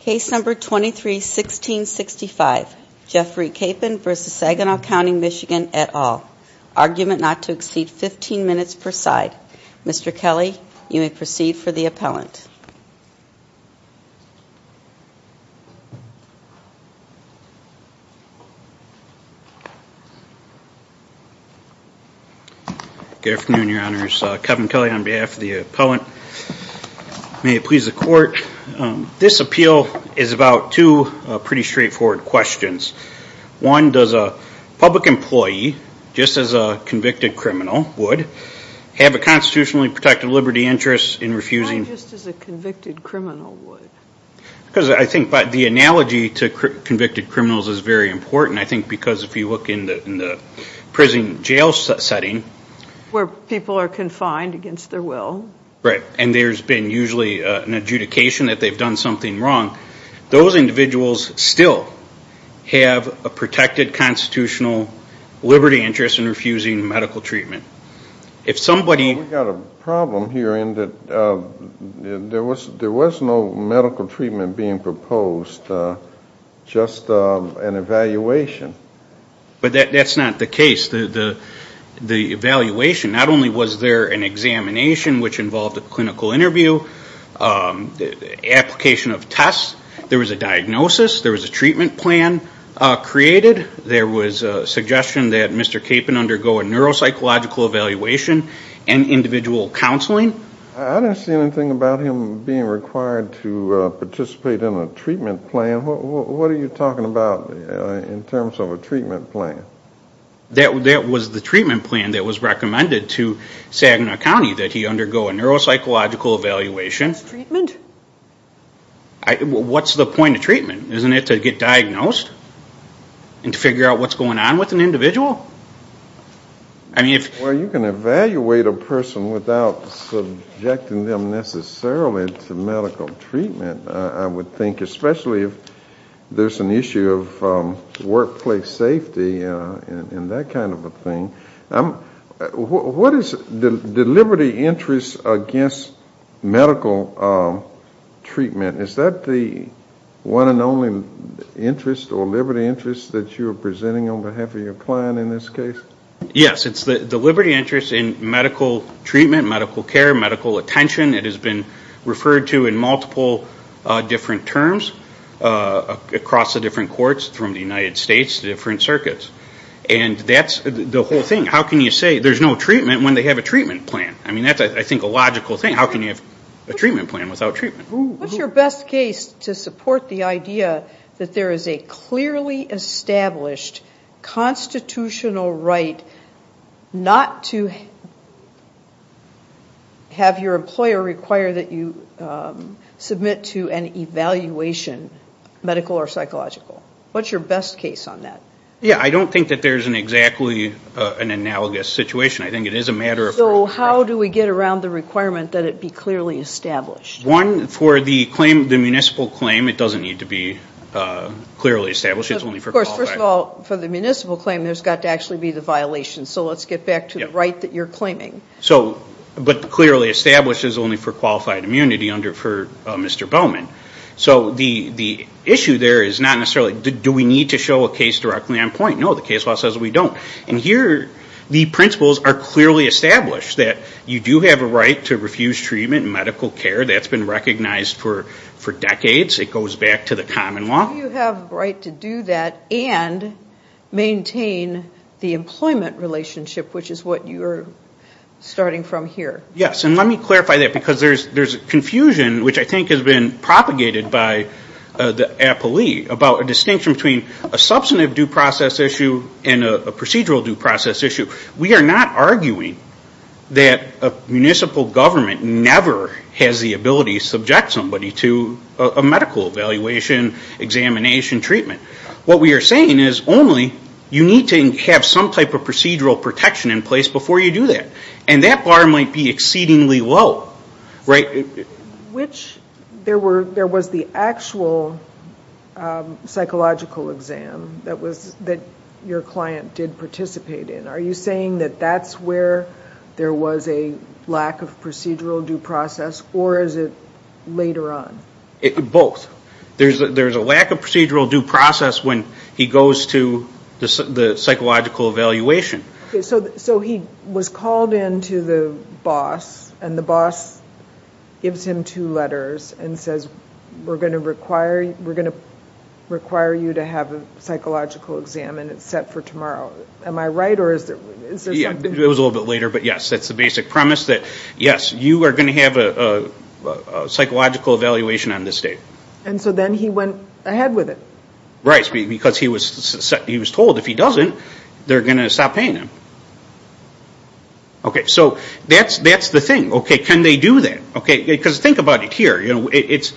Case No. 23-1665 Jeffrey Capen v. Saginaw County, MI et al. Argument not to exceed 15 minutes per side. Mr. Kelly, you may proceed for the appellant. Good afternoon, Your Honors. Kevin Kelly on behalf of the appellant. May it please the court. This appeal is about two pretty straightforward questions. One, does a public employee, just as a convicted criminal would, have a constitutionally protected liberty interest in refusing... Why just as a convicted criminal would? Because I think the analogy to convicted criminals is very important. I think because if you look in the prison jail setting... Where people are confined against their will. Right. And there's been usually an adjudication that they've done something wrong. Those individuals still have a protected constitutional liberty interest in refusing medical treatment. We've got a problem here in that there was no medical treatment being proposed, just an evaluation. But that's not the case. The evaluation, not only was there an examination which involved a clinical interview, application of tests. There was a diagnosis. There was a treatment plan created. There was a suggestion that Mr. Capen undergo a neuropsychological evaluation and individual counseling. I don't see anything about him being required to participate in a treatment plan. What are you talking about in terms of a treatment plan? That was the treatment plan that was recommended to Saginaw County that he undergo a neuropsychological evaluation. What's the point of treatment? Isn't it to get diagnosed and to figure out what's going on with an individual? Well, you can evaluate a person without subjecting them necessarily to medical treatment, I would think, especially if there's an issue of workplace safety and that kind of a thing. What is the liberty interest against medical treatment? Is that the one and only interest or liberty interest that you are presenting on behalf of your client in this case? Yes, it's the liberty interest in medical treatment, medical care, medical attention. It has been referred to in multiple different terms across the different courts from the United States to different circuits. And that's the whole thing. How can you say there's no treatment when they have a treatment plan? I mean, that's, I think, a logical thing. How can you have a treatment plan without treatment? What's your best case to support the idea that there is a clearly established constitutional right not to have your employer require that you submit to an evaluation, medical or psychological? What's your best case on that? Yeah, I don't think that there's exactly an analogous situation. I think it is a matter of... So how do we get around the requirement that it be clearly established? One, for the municipal claim, it doesn't need to be clearly established. It's only for qualified... Of course, first of all, for the municipal claim, there's got to actually be the violation. So let's get back to the right that you're claiming. But clearly established is only for qualified immunity under Mr. Bowman. So the issue there is not necessarily, do we need to show a case directly on point? No, the case law says we don't. And here, the principles are clearly established that you do have a right to refuse treatment and medical care. That's been recognized for decades. It goes back to the common law. Do you have a right to do that and maintain the employment relationship, which is what you're starting from here? Yes, and let me clarify that because there's confusion, which I think has been propagated by the appellee about a distinction between a substantive due process issue and a procedural due process issue. We are not arguing that a municipal government never has the ability to subject somebody to a medical evaluation, examination, treatment. What we are saying is only you need to have some type of procedural protection in place before you do that. And that bar might be exceedingly low. There was the actual psychological exam that your client did participate in. Are you saying that that's where there was a lack of procedural due process, or is it later on? Both. There's a lack of procedural due process when he goes to the psychological evaluation. So he was called in to the boss, and the boss gives him two letters and says, we're going to require you to have a psychological exam, and it's set for tomorrow. Am I right? It was a little bit later, but yes, that's the basic premise that, yes, you are going to have a psychological evaluation on this date. And so then he went ahead with it. So that's the thing. Can they do that? Because think about it here. This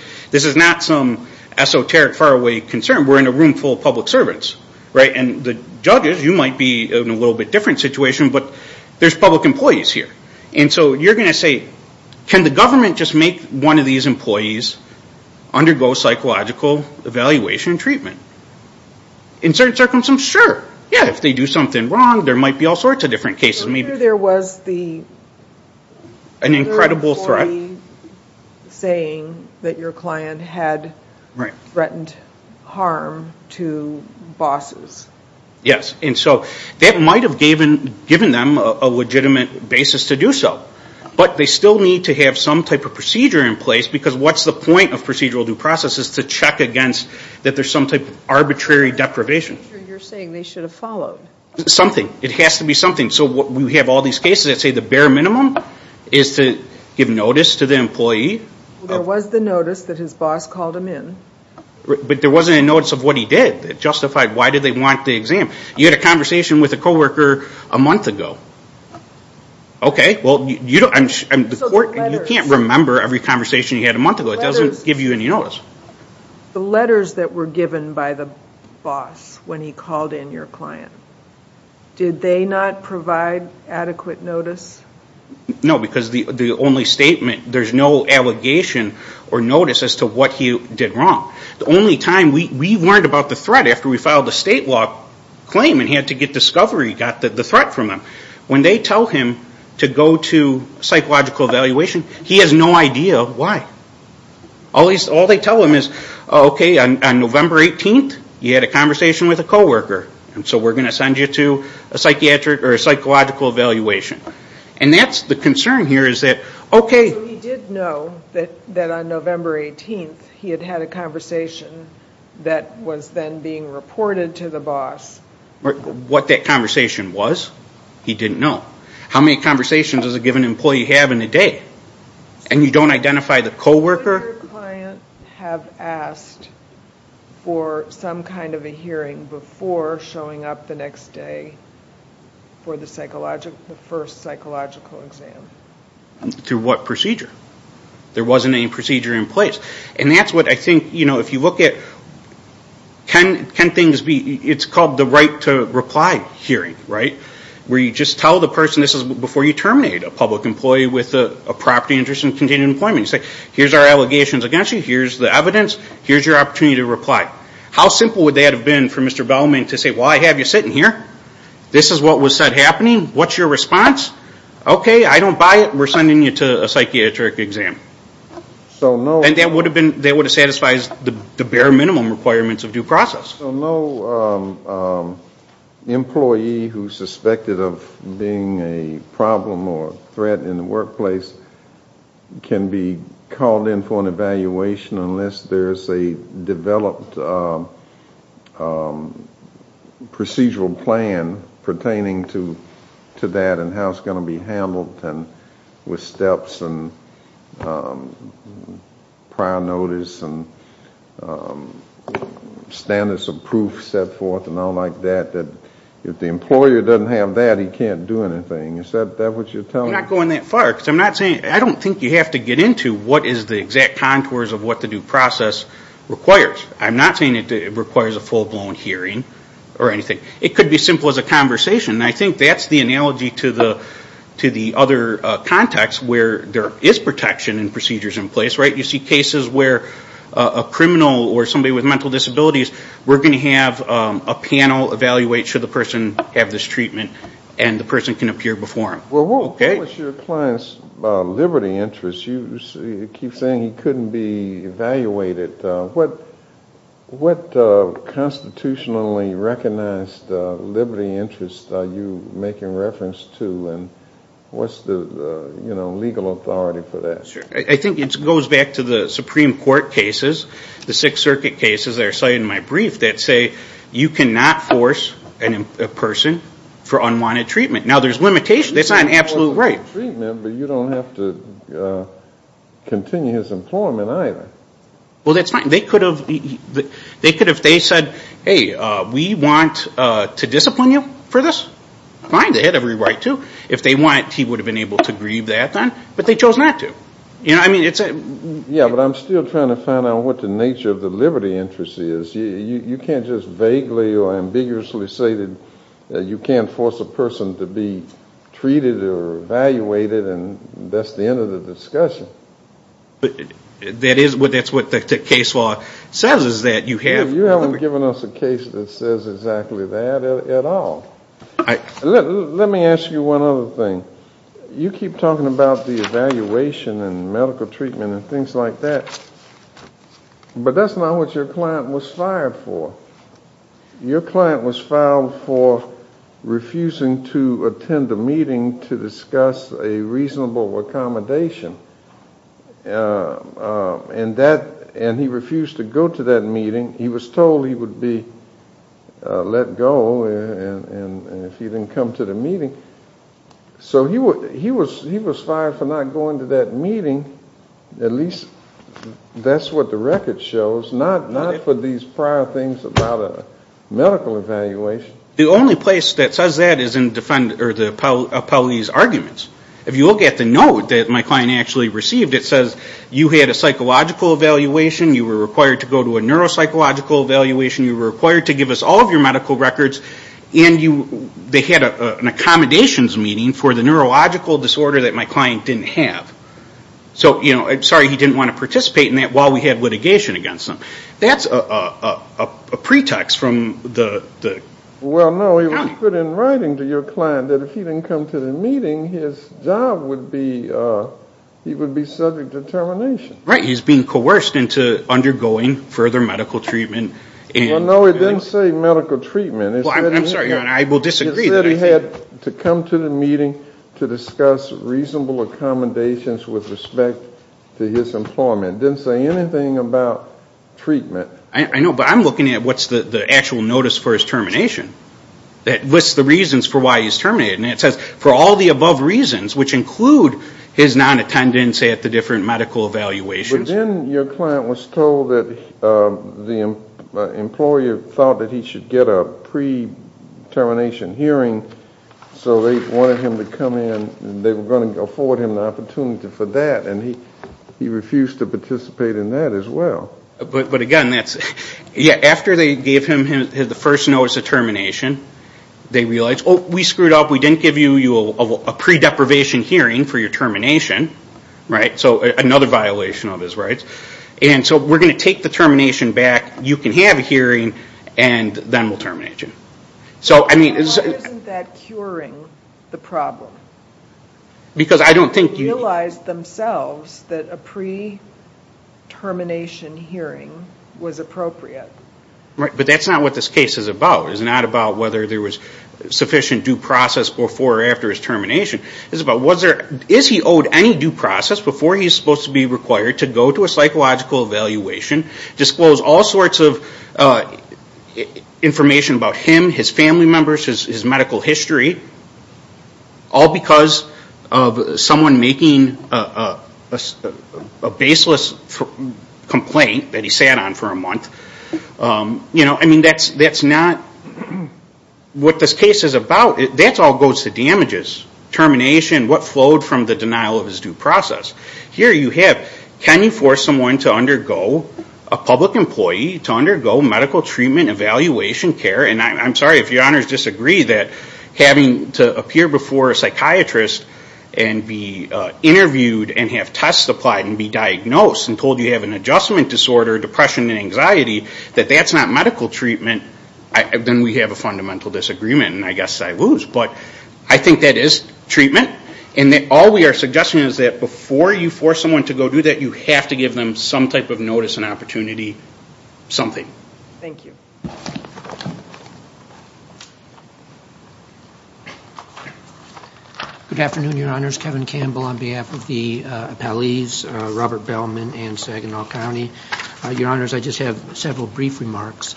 is not some esoteric, faraway concern. We're in a room full of public servants. And the judges, you might be in a little bit different situation, but there's public employees here. And so you're going to say, can the government just make one of these employees undergo psychological evaluation and treatment? In certain circumstances, sure. Yeah, if they do something wrong, there might be all sorts of different cases. An incredible threat. Yes, and so that might have given them a legitimate basis to do so. But they still need to have some type of procedure in place, because what's the point of procedural due process? It's to check against that there's some type of arbitrary deprivation. You're saying they should have followed. Something. It has to be something. So we have all these cases that say the bare minimum is to give notice to the employee. There was the notice that his boss called him in. But there wasn't a notice of what he did that justified why did they want the exam. You had a conversation with a coworker a month ago. You can't remember every conversation you had a month ago. It doesn't give you any notice. The letters that were given by the boss when he called in your client. Did they not provide adequate notice? No, because the only statement, there's no allegation or notice as to what he did wrong. The only time we learned about the threat after we filed the state law claim and he had to get discovery, he got the threat from them. When they tell him to go to psychological evaluation, he has no idea why. All they tell him is, okay, on November 18th, you had a conversation with a coworker. So we're going to send you to a psychological evaluation. That's the concern here. He did know that on November 18th, he had had a conversation that was then being reported to the boss. What that conversation was, he didn't know. How many conversations does a given employee have in a day? And you don't identify the coworker? Would your client have asked for some kind of a hearing before showing up the next day for the first psychological exam? Through what procedure? There wasn't any procedure in place. And that's what I think, if you look at, it's called the right to reply hearing. Where you just tell the person, this is before you terminate a public employee with a property interest in continuing employment. You say, here's our allegations against you, here's the evidence, here's your opportunity to reply. How simple would that have been for Mr. Bellman to say, well, I have you sitting here, this is what was said happening, what's your response? Okay, I don't buy it, we're sending you to a psychiatric exam. And that would have satisfied the bare minimum requirements of due process. No employee who's suspected of being a problem or a threat in the workplace can be called in for an evaluation unless there's a developed procedural plan pertaining to that in-house case. That's going to be handled with steps and prior notice and standards of proof set forth and all like that. If the employer doesn't have that, he can't do anything. Is that what you're telling me? I'm not going that far, because I'm not saying, I don't think you have to get into what is the exact contours of what the due process requires. I'm not saying it requires a full-blown hearing or anything. It could be as simple as a conversation. I think that's the analogy to the other context where there is protection and procedures in place. You see cases where a criminal or somebody with mental disabilities, we're going to have a panel evaluate should the person have this treatment and the person can appear before him. Well, what was your client's liberty interest? You keep saying he couldn't be evaluated. What constitutionally recognized liberty interest are you making reference to and what's the legal authority for that? I think it goes back to the Supreme Court cases, the Sixth Circuit cases that are cited in my brief that say you cannot force a person for unwanted treatment. Now, there's limitations. That's not an absolute right. You can force a person for unwanted treatment, but you don't have to continue his employment either. Well, that's fine. They could have, if they said, hey, we want to discipline you for this, fine, they had every right to. If they want, he would have been able to grieve that then, but they chose not to. Yeah, but I'm still trying to find out what the nature of the liberty interest is. You can't just vaguely or ambiguously say that you can't force a person to be treated or evaluated and that's the end of the discussion. But that's what the case law says is that you have to. You haven't given us a case that says exactly that at all. Let me ask you one other thing. You keep talking about the evaluation and medical treatment and things like that, but that's not what your client was following. Your client was filed for refusing to attend a meeting to discuss a reasonable accommodation. And he refused to go to that meeting. He was told he would be let go if he didn't come to the meeting. So he was fired for not going to that meeting. At least that's what the record shows, not for these prior things about a medical evaluation. The only place that says that is in the police arguments. If you look at the note that my client actually received, it says you had a psychological evaluation, you were required to go to a neuropsychological evaluation, you were required to give us all of your medical records, and they had an accommodations meeting for the neurological disorder that my client didn't have. So, sorry, he didn't want to participate in that while we had litigation against him. That's a pretext from the county. Well, no, it was put in writing to your client that if he didn't come to the meeting, his job would be, he would be subject to termination. Right, he's being coerced into undergoing further medical treatment. Well, no, it didn't say medical treatment. I'm sorry, Your Honor, I will disagree. It said he had to come to the meeting to discuss reasonable accommodations with respect to his employment. It didn't say anything about treatment. I know, but I'm looking at what's the actual notice for his termination that lists the reasons for why he's terminated. And it says for all the above reasons, which include his non-attendance at the different medical evaluations. But then your client was told that the employer thought that he should get a pre-termination hearing. So they wanted him to come in, and they were going to afford him the opportunity for that. And he refused to participate in that as well. But again, that's, yeah, after they gave him the first notice of termination, they realized, oh, we screwed up. We didn't give you a pre-deprivation hearing for your termination. So another violation of his rights. And so we're going to take the termination back. You can have a hearing, and then we'll terminate you. Why isn't that curing the problem? Because they realized themselves that a pre-termination hearing was appropriate. But that's not what this case is about. It's not about whether there was sufficient due process before or after his termination. It's about, is he owed any due process before he's supposed to be required to go to a psychological evaluation, disclose all sorts of information about him, his family members, his medical history, all because of someone making a baseless complaint that he sat on for a month. You know, I mean, that's not what this case is about. That all goes to damages, termination, what flowed from the denial of his due process. Here you have, can you force someone to undergo, a public employee, to undergo medical treatment, evaluation, care, and I'm sorry if your honors disagree that having to appear before a psychiatrist and be interviewed and have tests applied and be diagnosed and told you have an adjustment disorder, depression and anxiety, that that's not medical treatment, then we have a fundamental disagreement and I guess I lose. But I think that is treatment. And all we are suggesting is that before you force someone to go do that, you have to give them some type of notice and opportunity, something. Thank you. Good afternoon, your honors. Kevin Campbell on behalf of the appellees, Robert Bellman and Saginaw County. Your honors, I just have several brief remarks.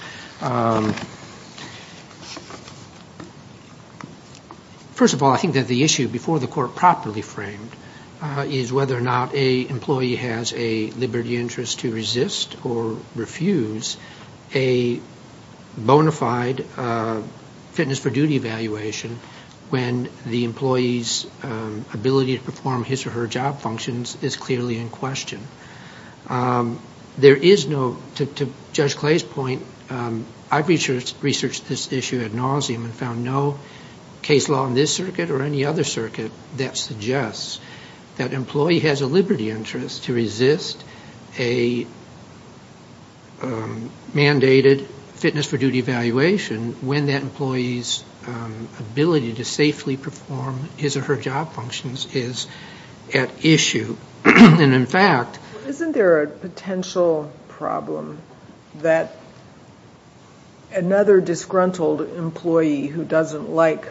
First of all, I think that the issue before the court properly framed is whether or not a employee has a liberty interest to resist or refuse a bona fide fitness for duty evaluation when the employee's ability to perform his or her job functions is clearly in question. There is no, to Judge Clay's point, I've researched this issue ad nauseum and found no case law in this circuit or any other circuit that suggests that an employee has a liberty interest to resist, a mandated fitness for duty evaluation when that employee's ability to safely perform his or her job functions is at issue. And in fact... Isn't there a potential problem that another disgruntled employee who doesn't like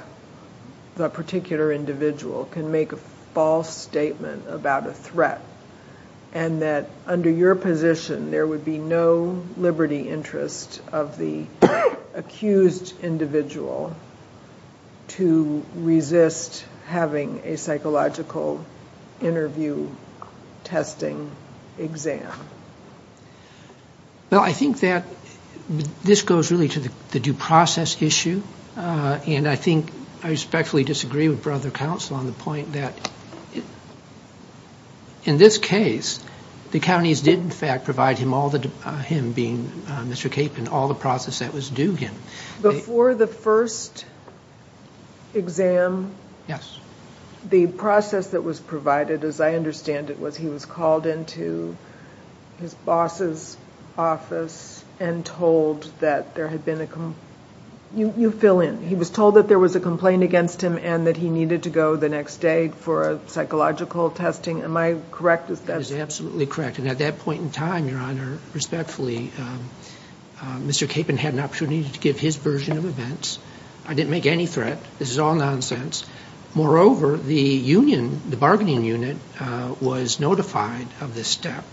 that particular individual can make a false statement about a threat, and that under your position there would be no liberty interest of the accused individual to resist having a psychological interview testing exam? Well, I think that this goes really to the due process issue. And I think I respectfully disagree with Brother Counsel on the point that in this case, the counties did in fact provide him, him being Mr. Capon, all the process that was due him. Before the first exam... Yes. The process that was provided, as I understand it, was he was called into his boss's office and told that there had been a... You fill in. He was told that there was a complaint against him and that he needed to go the next day for a psychological testing. Am I correct? That is absolutely correct. And at that point in time, Your Honor, respectfully, Mr. Capon had an opportunity to give his version of events. I didn't make any threat. This is all nonsense. Moreover, the union, the bargaining unit, was notified of this step.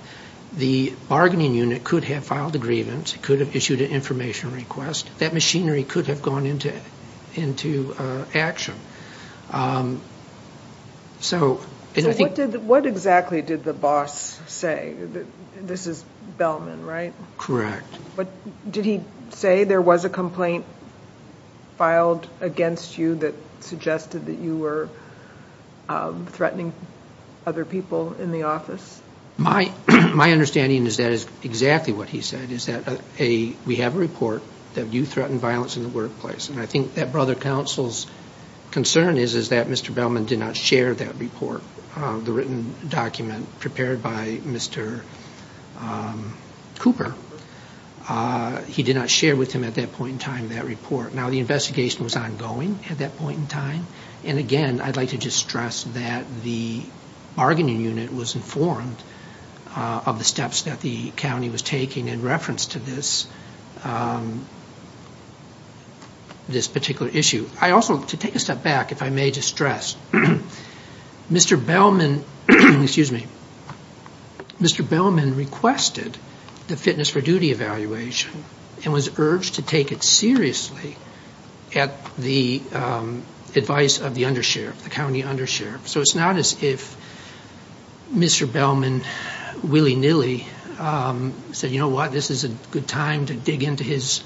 The bargaining unit could have filed a grievance, could have issued an information request. That machinery could have gone into action. So what exactly did the boss say? This is Bellman, right? Correct. Did he say there was a complaint filed against you that suggested that you were threatening other people in the office? My understanding is that is exactly what he said, is that we have a report that you threatened violence in the workplace. And I think that Brother Counsel's concern is that Mr. Bellman did not share that report, the written document prepared by Mr. Cooper. He did not share with him at that point in time that report. Now, the investigation was ongoing at that point in time. I don't know of the steps that the county was taking in reference to this particular issue. I also, to take a step back, if I may just stress, Mr. Bellman requested the fitness for duty evaluation and was urged to take it seriously at the advice of the undersheriff, the county undersheriff. So it's not as if Mr. Bellman willy-nilly said, you know what, this is a good time to dig into his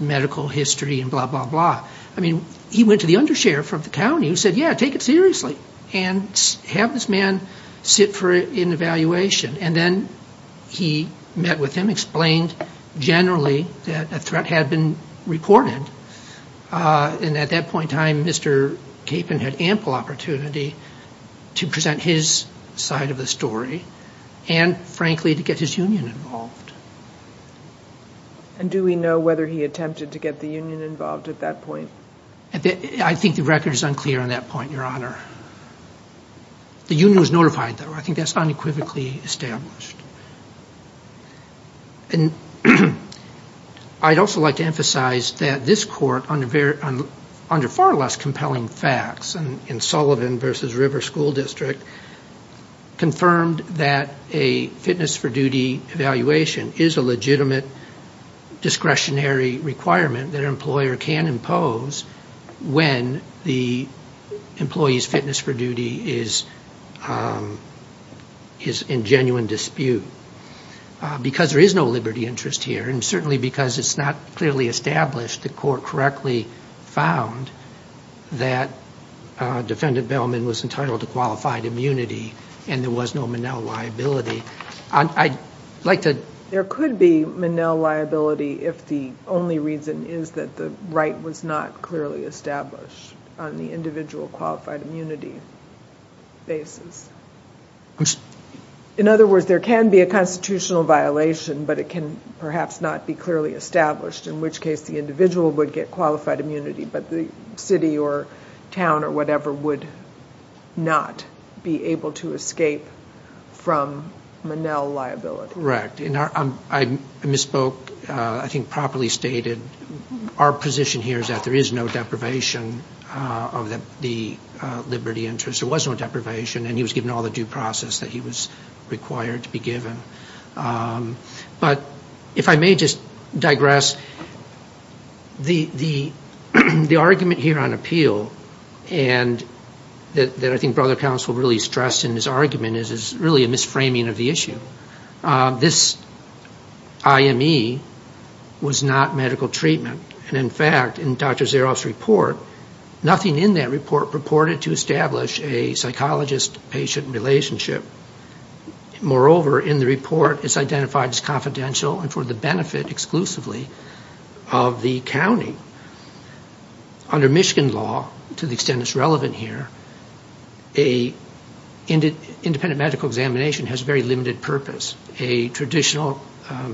medical history and blah, blah, blah. I mean, he went to the undersheriff from the county who said, yeah, take it seriously and have this man sit for an evaluation. And then he met with him, explained generally that a threat had been reported. And at that point in time, Mr. Capon had ample opportunity to present his side of the story and, frankly, to get his union involved. And do we know whether he attempted to get the union involved at that point? I think the record is unclear on that point, Your Honor. The union was notified, though. I think that's unequivocally established. And this court, under far less compelling facts in Sullivan v. River School District, confirmed that a fitness for duty evaluation is a legitimate discretionary requirement that an employer can impose when the employee's fitness for duty is in genuine dispute. Because there is no liberty interest here, and certainly because it's not clearly established, the court correctly found that Defendant Bellman was entitled to qualified immunity, and there was no Monell liability. I'd like to... There could be Monell liability if the only reason is that the right was not clearly established on the individual qualified immunity basis. In other words, there can be a constitutional violation, but it can perhaps not be clearly established, in which case the individual would get qualified immunity, but the city or town or whatever would not be able to escape from Monell liability. Correct. I misspoke, I think properly stated. Our position here is that there is no deprivation of the liberty interest. There was no deprivation, and he was given all the due process that he was required to be given. But if I may just digress, the argument here on appeal, and that I think Brother Counsel really stressed in his argument, is really a misframing of the issue. This IME was not medical treatment. And in fact, in Dr. Zaroff's report, nothing in that report purported to establish a psychologist-patient relationship. Moreover, in the report, it's identified as confidential and for the benefit exclusively of the county. Under Michigan law, to the extent it's relevant here, an independent medical examination has very limited purpose. A traditional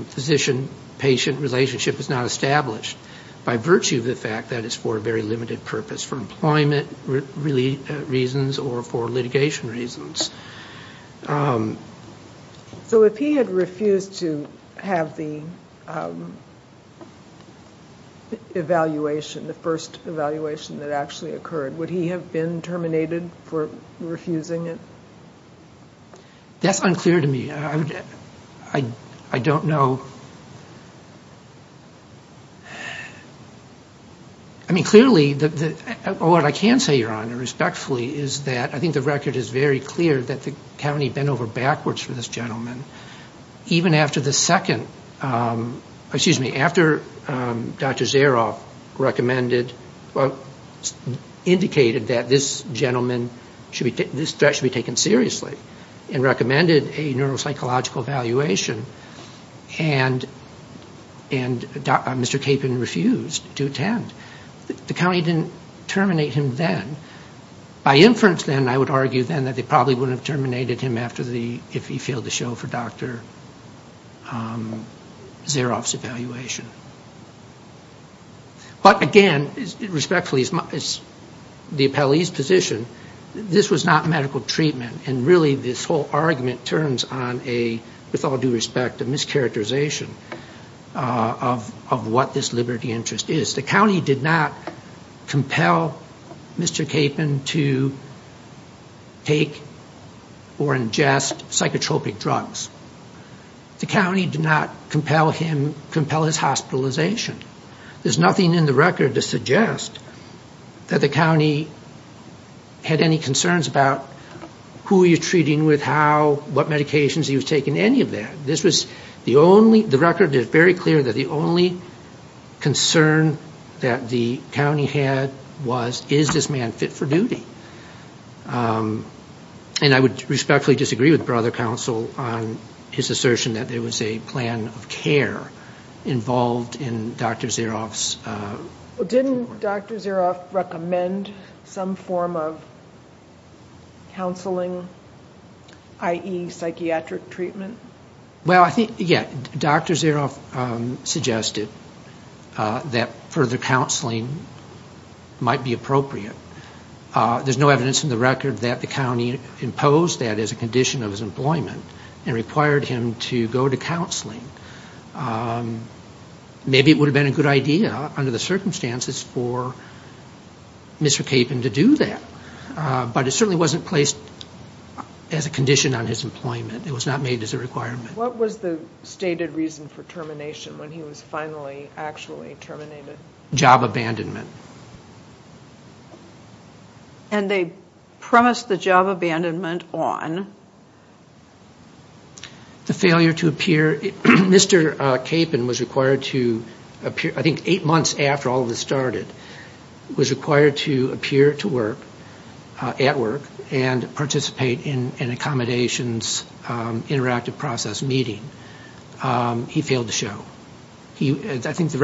physician-patient relationship is not established by virtue of the fact that it's for a very limited purpose, for employment reasons or for litigation reasons. So if he had refused to have the evaluation, the first evaluation that actually occurred, would he have been terminated for refusing it? That's unclear to me. I mean, clearly, what I can say, Your Honor, respectfully, is that I think the record is very clear that the county bent over backwards for this gentleman. Even after the second, excuse me, after Dr. Zaroff recommended, indicated that this gentleman, this threat should be taken seriously. And recommended a neuropsychological evaluation, and Mr. Capon refused to attend. The county didn't terminate him then. By inference then, I would argue then that they probably wouldn't have terminated him after the, if he failed to show for Dr. Zaroff's evaluation. But again, respectfully, as the appellee's position, this was not medical treatment. And really, this whole argument turns on a, with all due respect, a mischaracterization of what this liberty interest is. The county did not compel Mr. Capon to take or ingest psychotropic drugs. The county did not compel him, compel his hospitalization. There's nothing in the record to suggest that the county had any concerns about who was going to be treated. Who were you treating with, how, what medications he was taking, any of that. This was the only, the record is very clear that the only concern that the county had was, is this man fit for duty. And I would respectfully disagree with brother counsel on his assertion that there was a plan of care involved in Dr. Zaroff's treatment. Didn't Dr. Zaroff recommend some form of counseling, i.e. psychiatric treatment? Well, I think, yeah, Dr. Zaroff suggested that further counseling might be appropriate. There's no evidence in the record that the county imposed that as a condition of his employment and required him to go to counseling. Maybe it would have been a good idea under the circumstances for Mr. Capon to do that. But it certainly wasn't placed as a condition on his employment. It was not made as a requirement. What was the stated reason for termination when he was finally actually terminated? Job abandonment. And they promised the job abandonment on? The failure to appear, Mr. Capon was required to appear, I think eight months after all of this started, was required to appear to work, at work, and participate in an accommodations interactive process meeting. He failed to show. And moreover,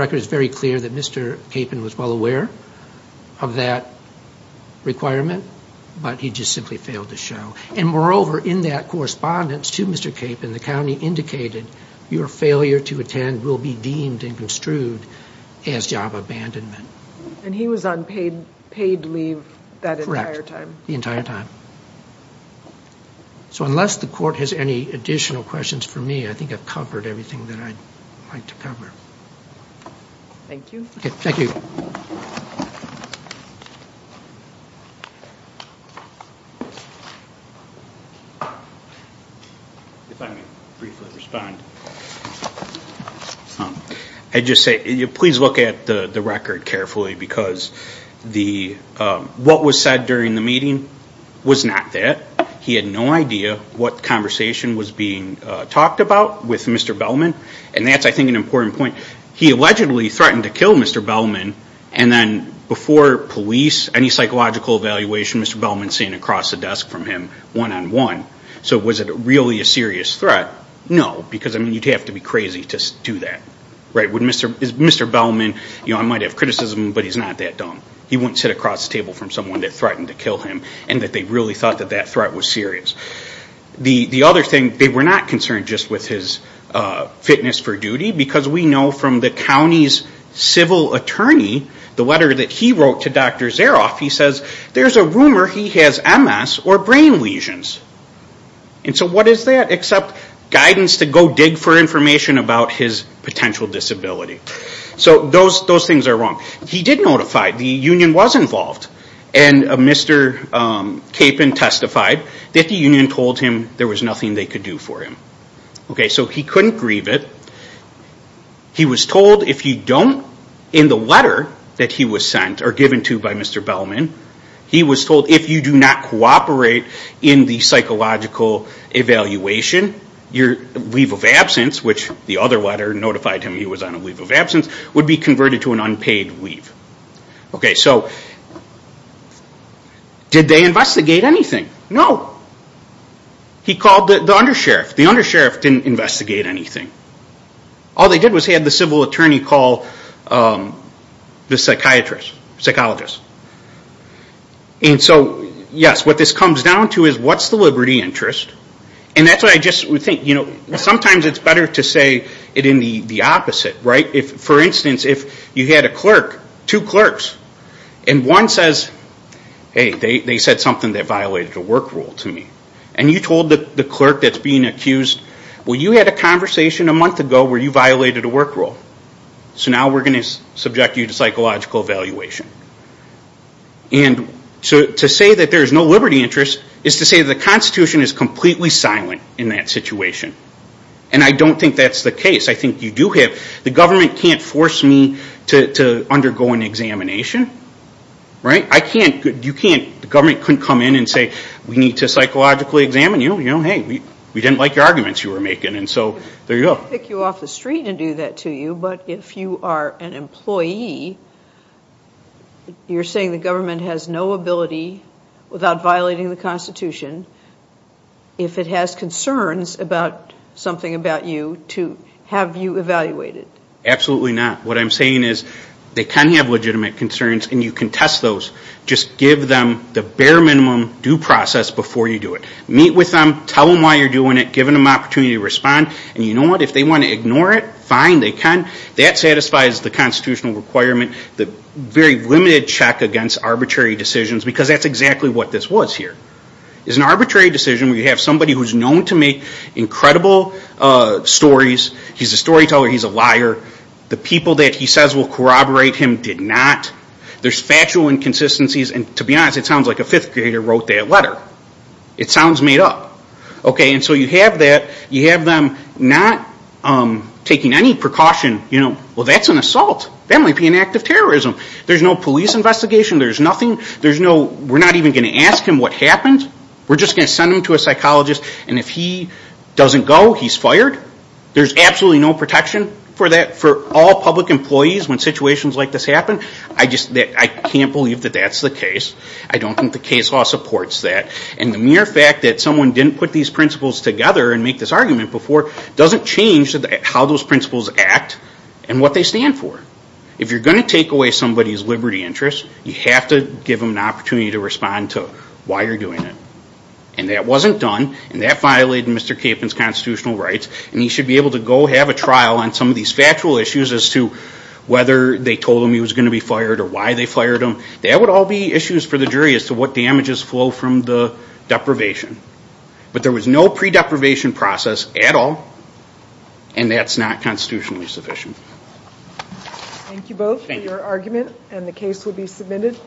in that correspondence to Mr. Capon, the county indicated your failure to attend will be deemed and construed as job abandonment. And he was on paid leave that entire time? Correct, the entire time. So unless the court has any additional questions for me, I think I've covered everything that I'd like to cover. If I may briefly respond. I'd just say, please look at the record carefully, because what was said during the meeting was not that. He had no idea what conversation was being talked about with Mr. Bellman. And that's, I think, an important point. Was there police, any psychological evaluation Mr. Bellman seen across the desk from him one-on-one? So was it really a serious threat? No, because, I mean, you'd have to be crazy to do that, right? Mr. Bellman, I might have criticism, but he's not that dumb. He wouldn't sit across the table from someone that threatened to kill him and that they really thought that that threat was serious. The other thing, they were not concerned just with his fitness for duty, because we know from the county's civil attorney, the letter that he wrote to Dr. Zaroff, he says there's a rumor he has MS or brain lesions. And so what is that except guidance to go dig for information about his potential disability? So those things are wrong. He did notify, the union was involved. And Mr. Capon testified that the union told him there was nothing they could do for him. So he couldn't grieve it. He was told if you don't, in the letter that he was sent or given to by Mr. Bellman, he was told if you do not cooperate in the psychological evaluation, your leave of absence, which the other letter notified him he was on a leave of absence, would be converted to an unpaid leave. Okay, so did they investigate anything? No. He called the undersheriff. The undersheriff didn't investigate anything. All they did was have the civil attorney call the psychiatrist, psychologist. And so yes, what this comes down to is what's the liberty interest? And that's what I just would think. Sometimes it's better to say it in the opposite. For instance, if you had a clerk, two clerks, and one says, hey, they said something that violated a work rule to me. And you told the clerk that's being accused, well, you had a conversation a month ago where you violated a work rule. So now we're going to subject you to psychological evaluation. And to say that there's no liberty interest is to say the Constitution is completely silent in that situation. And I don't think that's the case. The government can't force me to undergo an examination. The government couldn't come in and say, we need to psychologically examine you. You know, hey, we didn't like the arguments you were making. And so there you go. But if you are an employee, you're saying the government has no ability without violating the Constitution, if it has concerns about something about you, to have you evaluated? Absolutely not. What I'm saying is they can have legitimate concerns, and you can test those. Just give them the bare minimum due process before you do it. Meet with them, tell them why you're doing it, give them an opportunity to respond. And you know what, if they want to ignore it, fine, they can. That satisfies the Constitutional requirement, the very limited check against arbitrary decisions, because that's exactly what this was here. It's an arbitrary decision where you have somebody who's known to make incredible stories. He's a storyteller, he's a liar. The people that he says will corroborate him did not. There's factual inconsistencies, and to be honest, it sounds like a fifth grader wrote that letter. It sounds made up. So you have them not taking any precaution. Well, that's an assault. That might be an act of terrorism. There's no police investigation. We're not even going to ask him what happened. We're just going to send him to a psychologist, and if he doesn't go, he's fired. There's absolutely no protection for all public employees when situations like this happen. I can't believe that that's the case. I don't think the case law supports that. And the mere fact that someone didn't put these principles together and make this argument before doesn't change how those principles act and what they stand for. If you're going to take away somebody's liberty interest, you have to give them an opportunity to respond to why you're doing it. And that wasn't done, and that violated Mr. Capon's constitutional rights. And he should be able to go have a trial on some of these factual issues as to whether they told him he was going to be fired or why they fired him. That would all be issues for the jury as to what damages flow from the deprivation. But there was no pre-deprivation process at all, and that's not constitutionally sufficient. Thank you both for your argument, and the case will be submitted.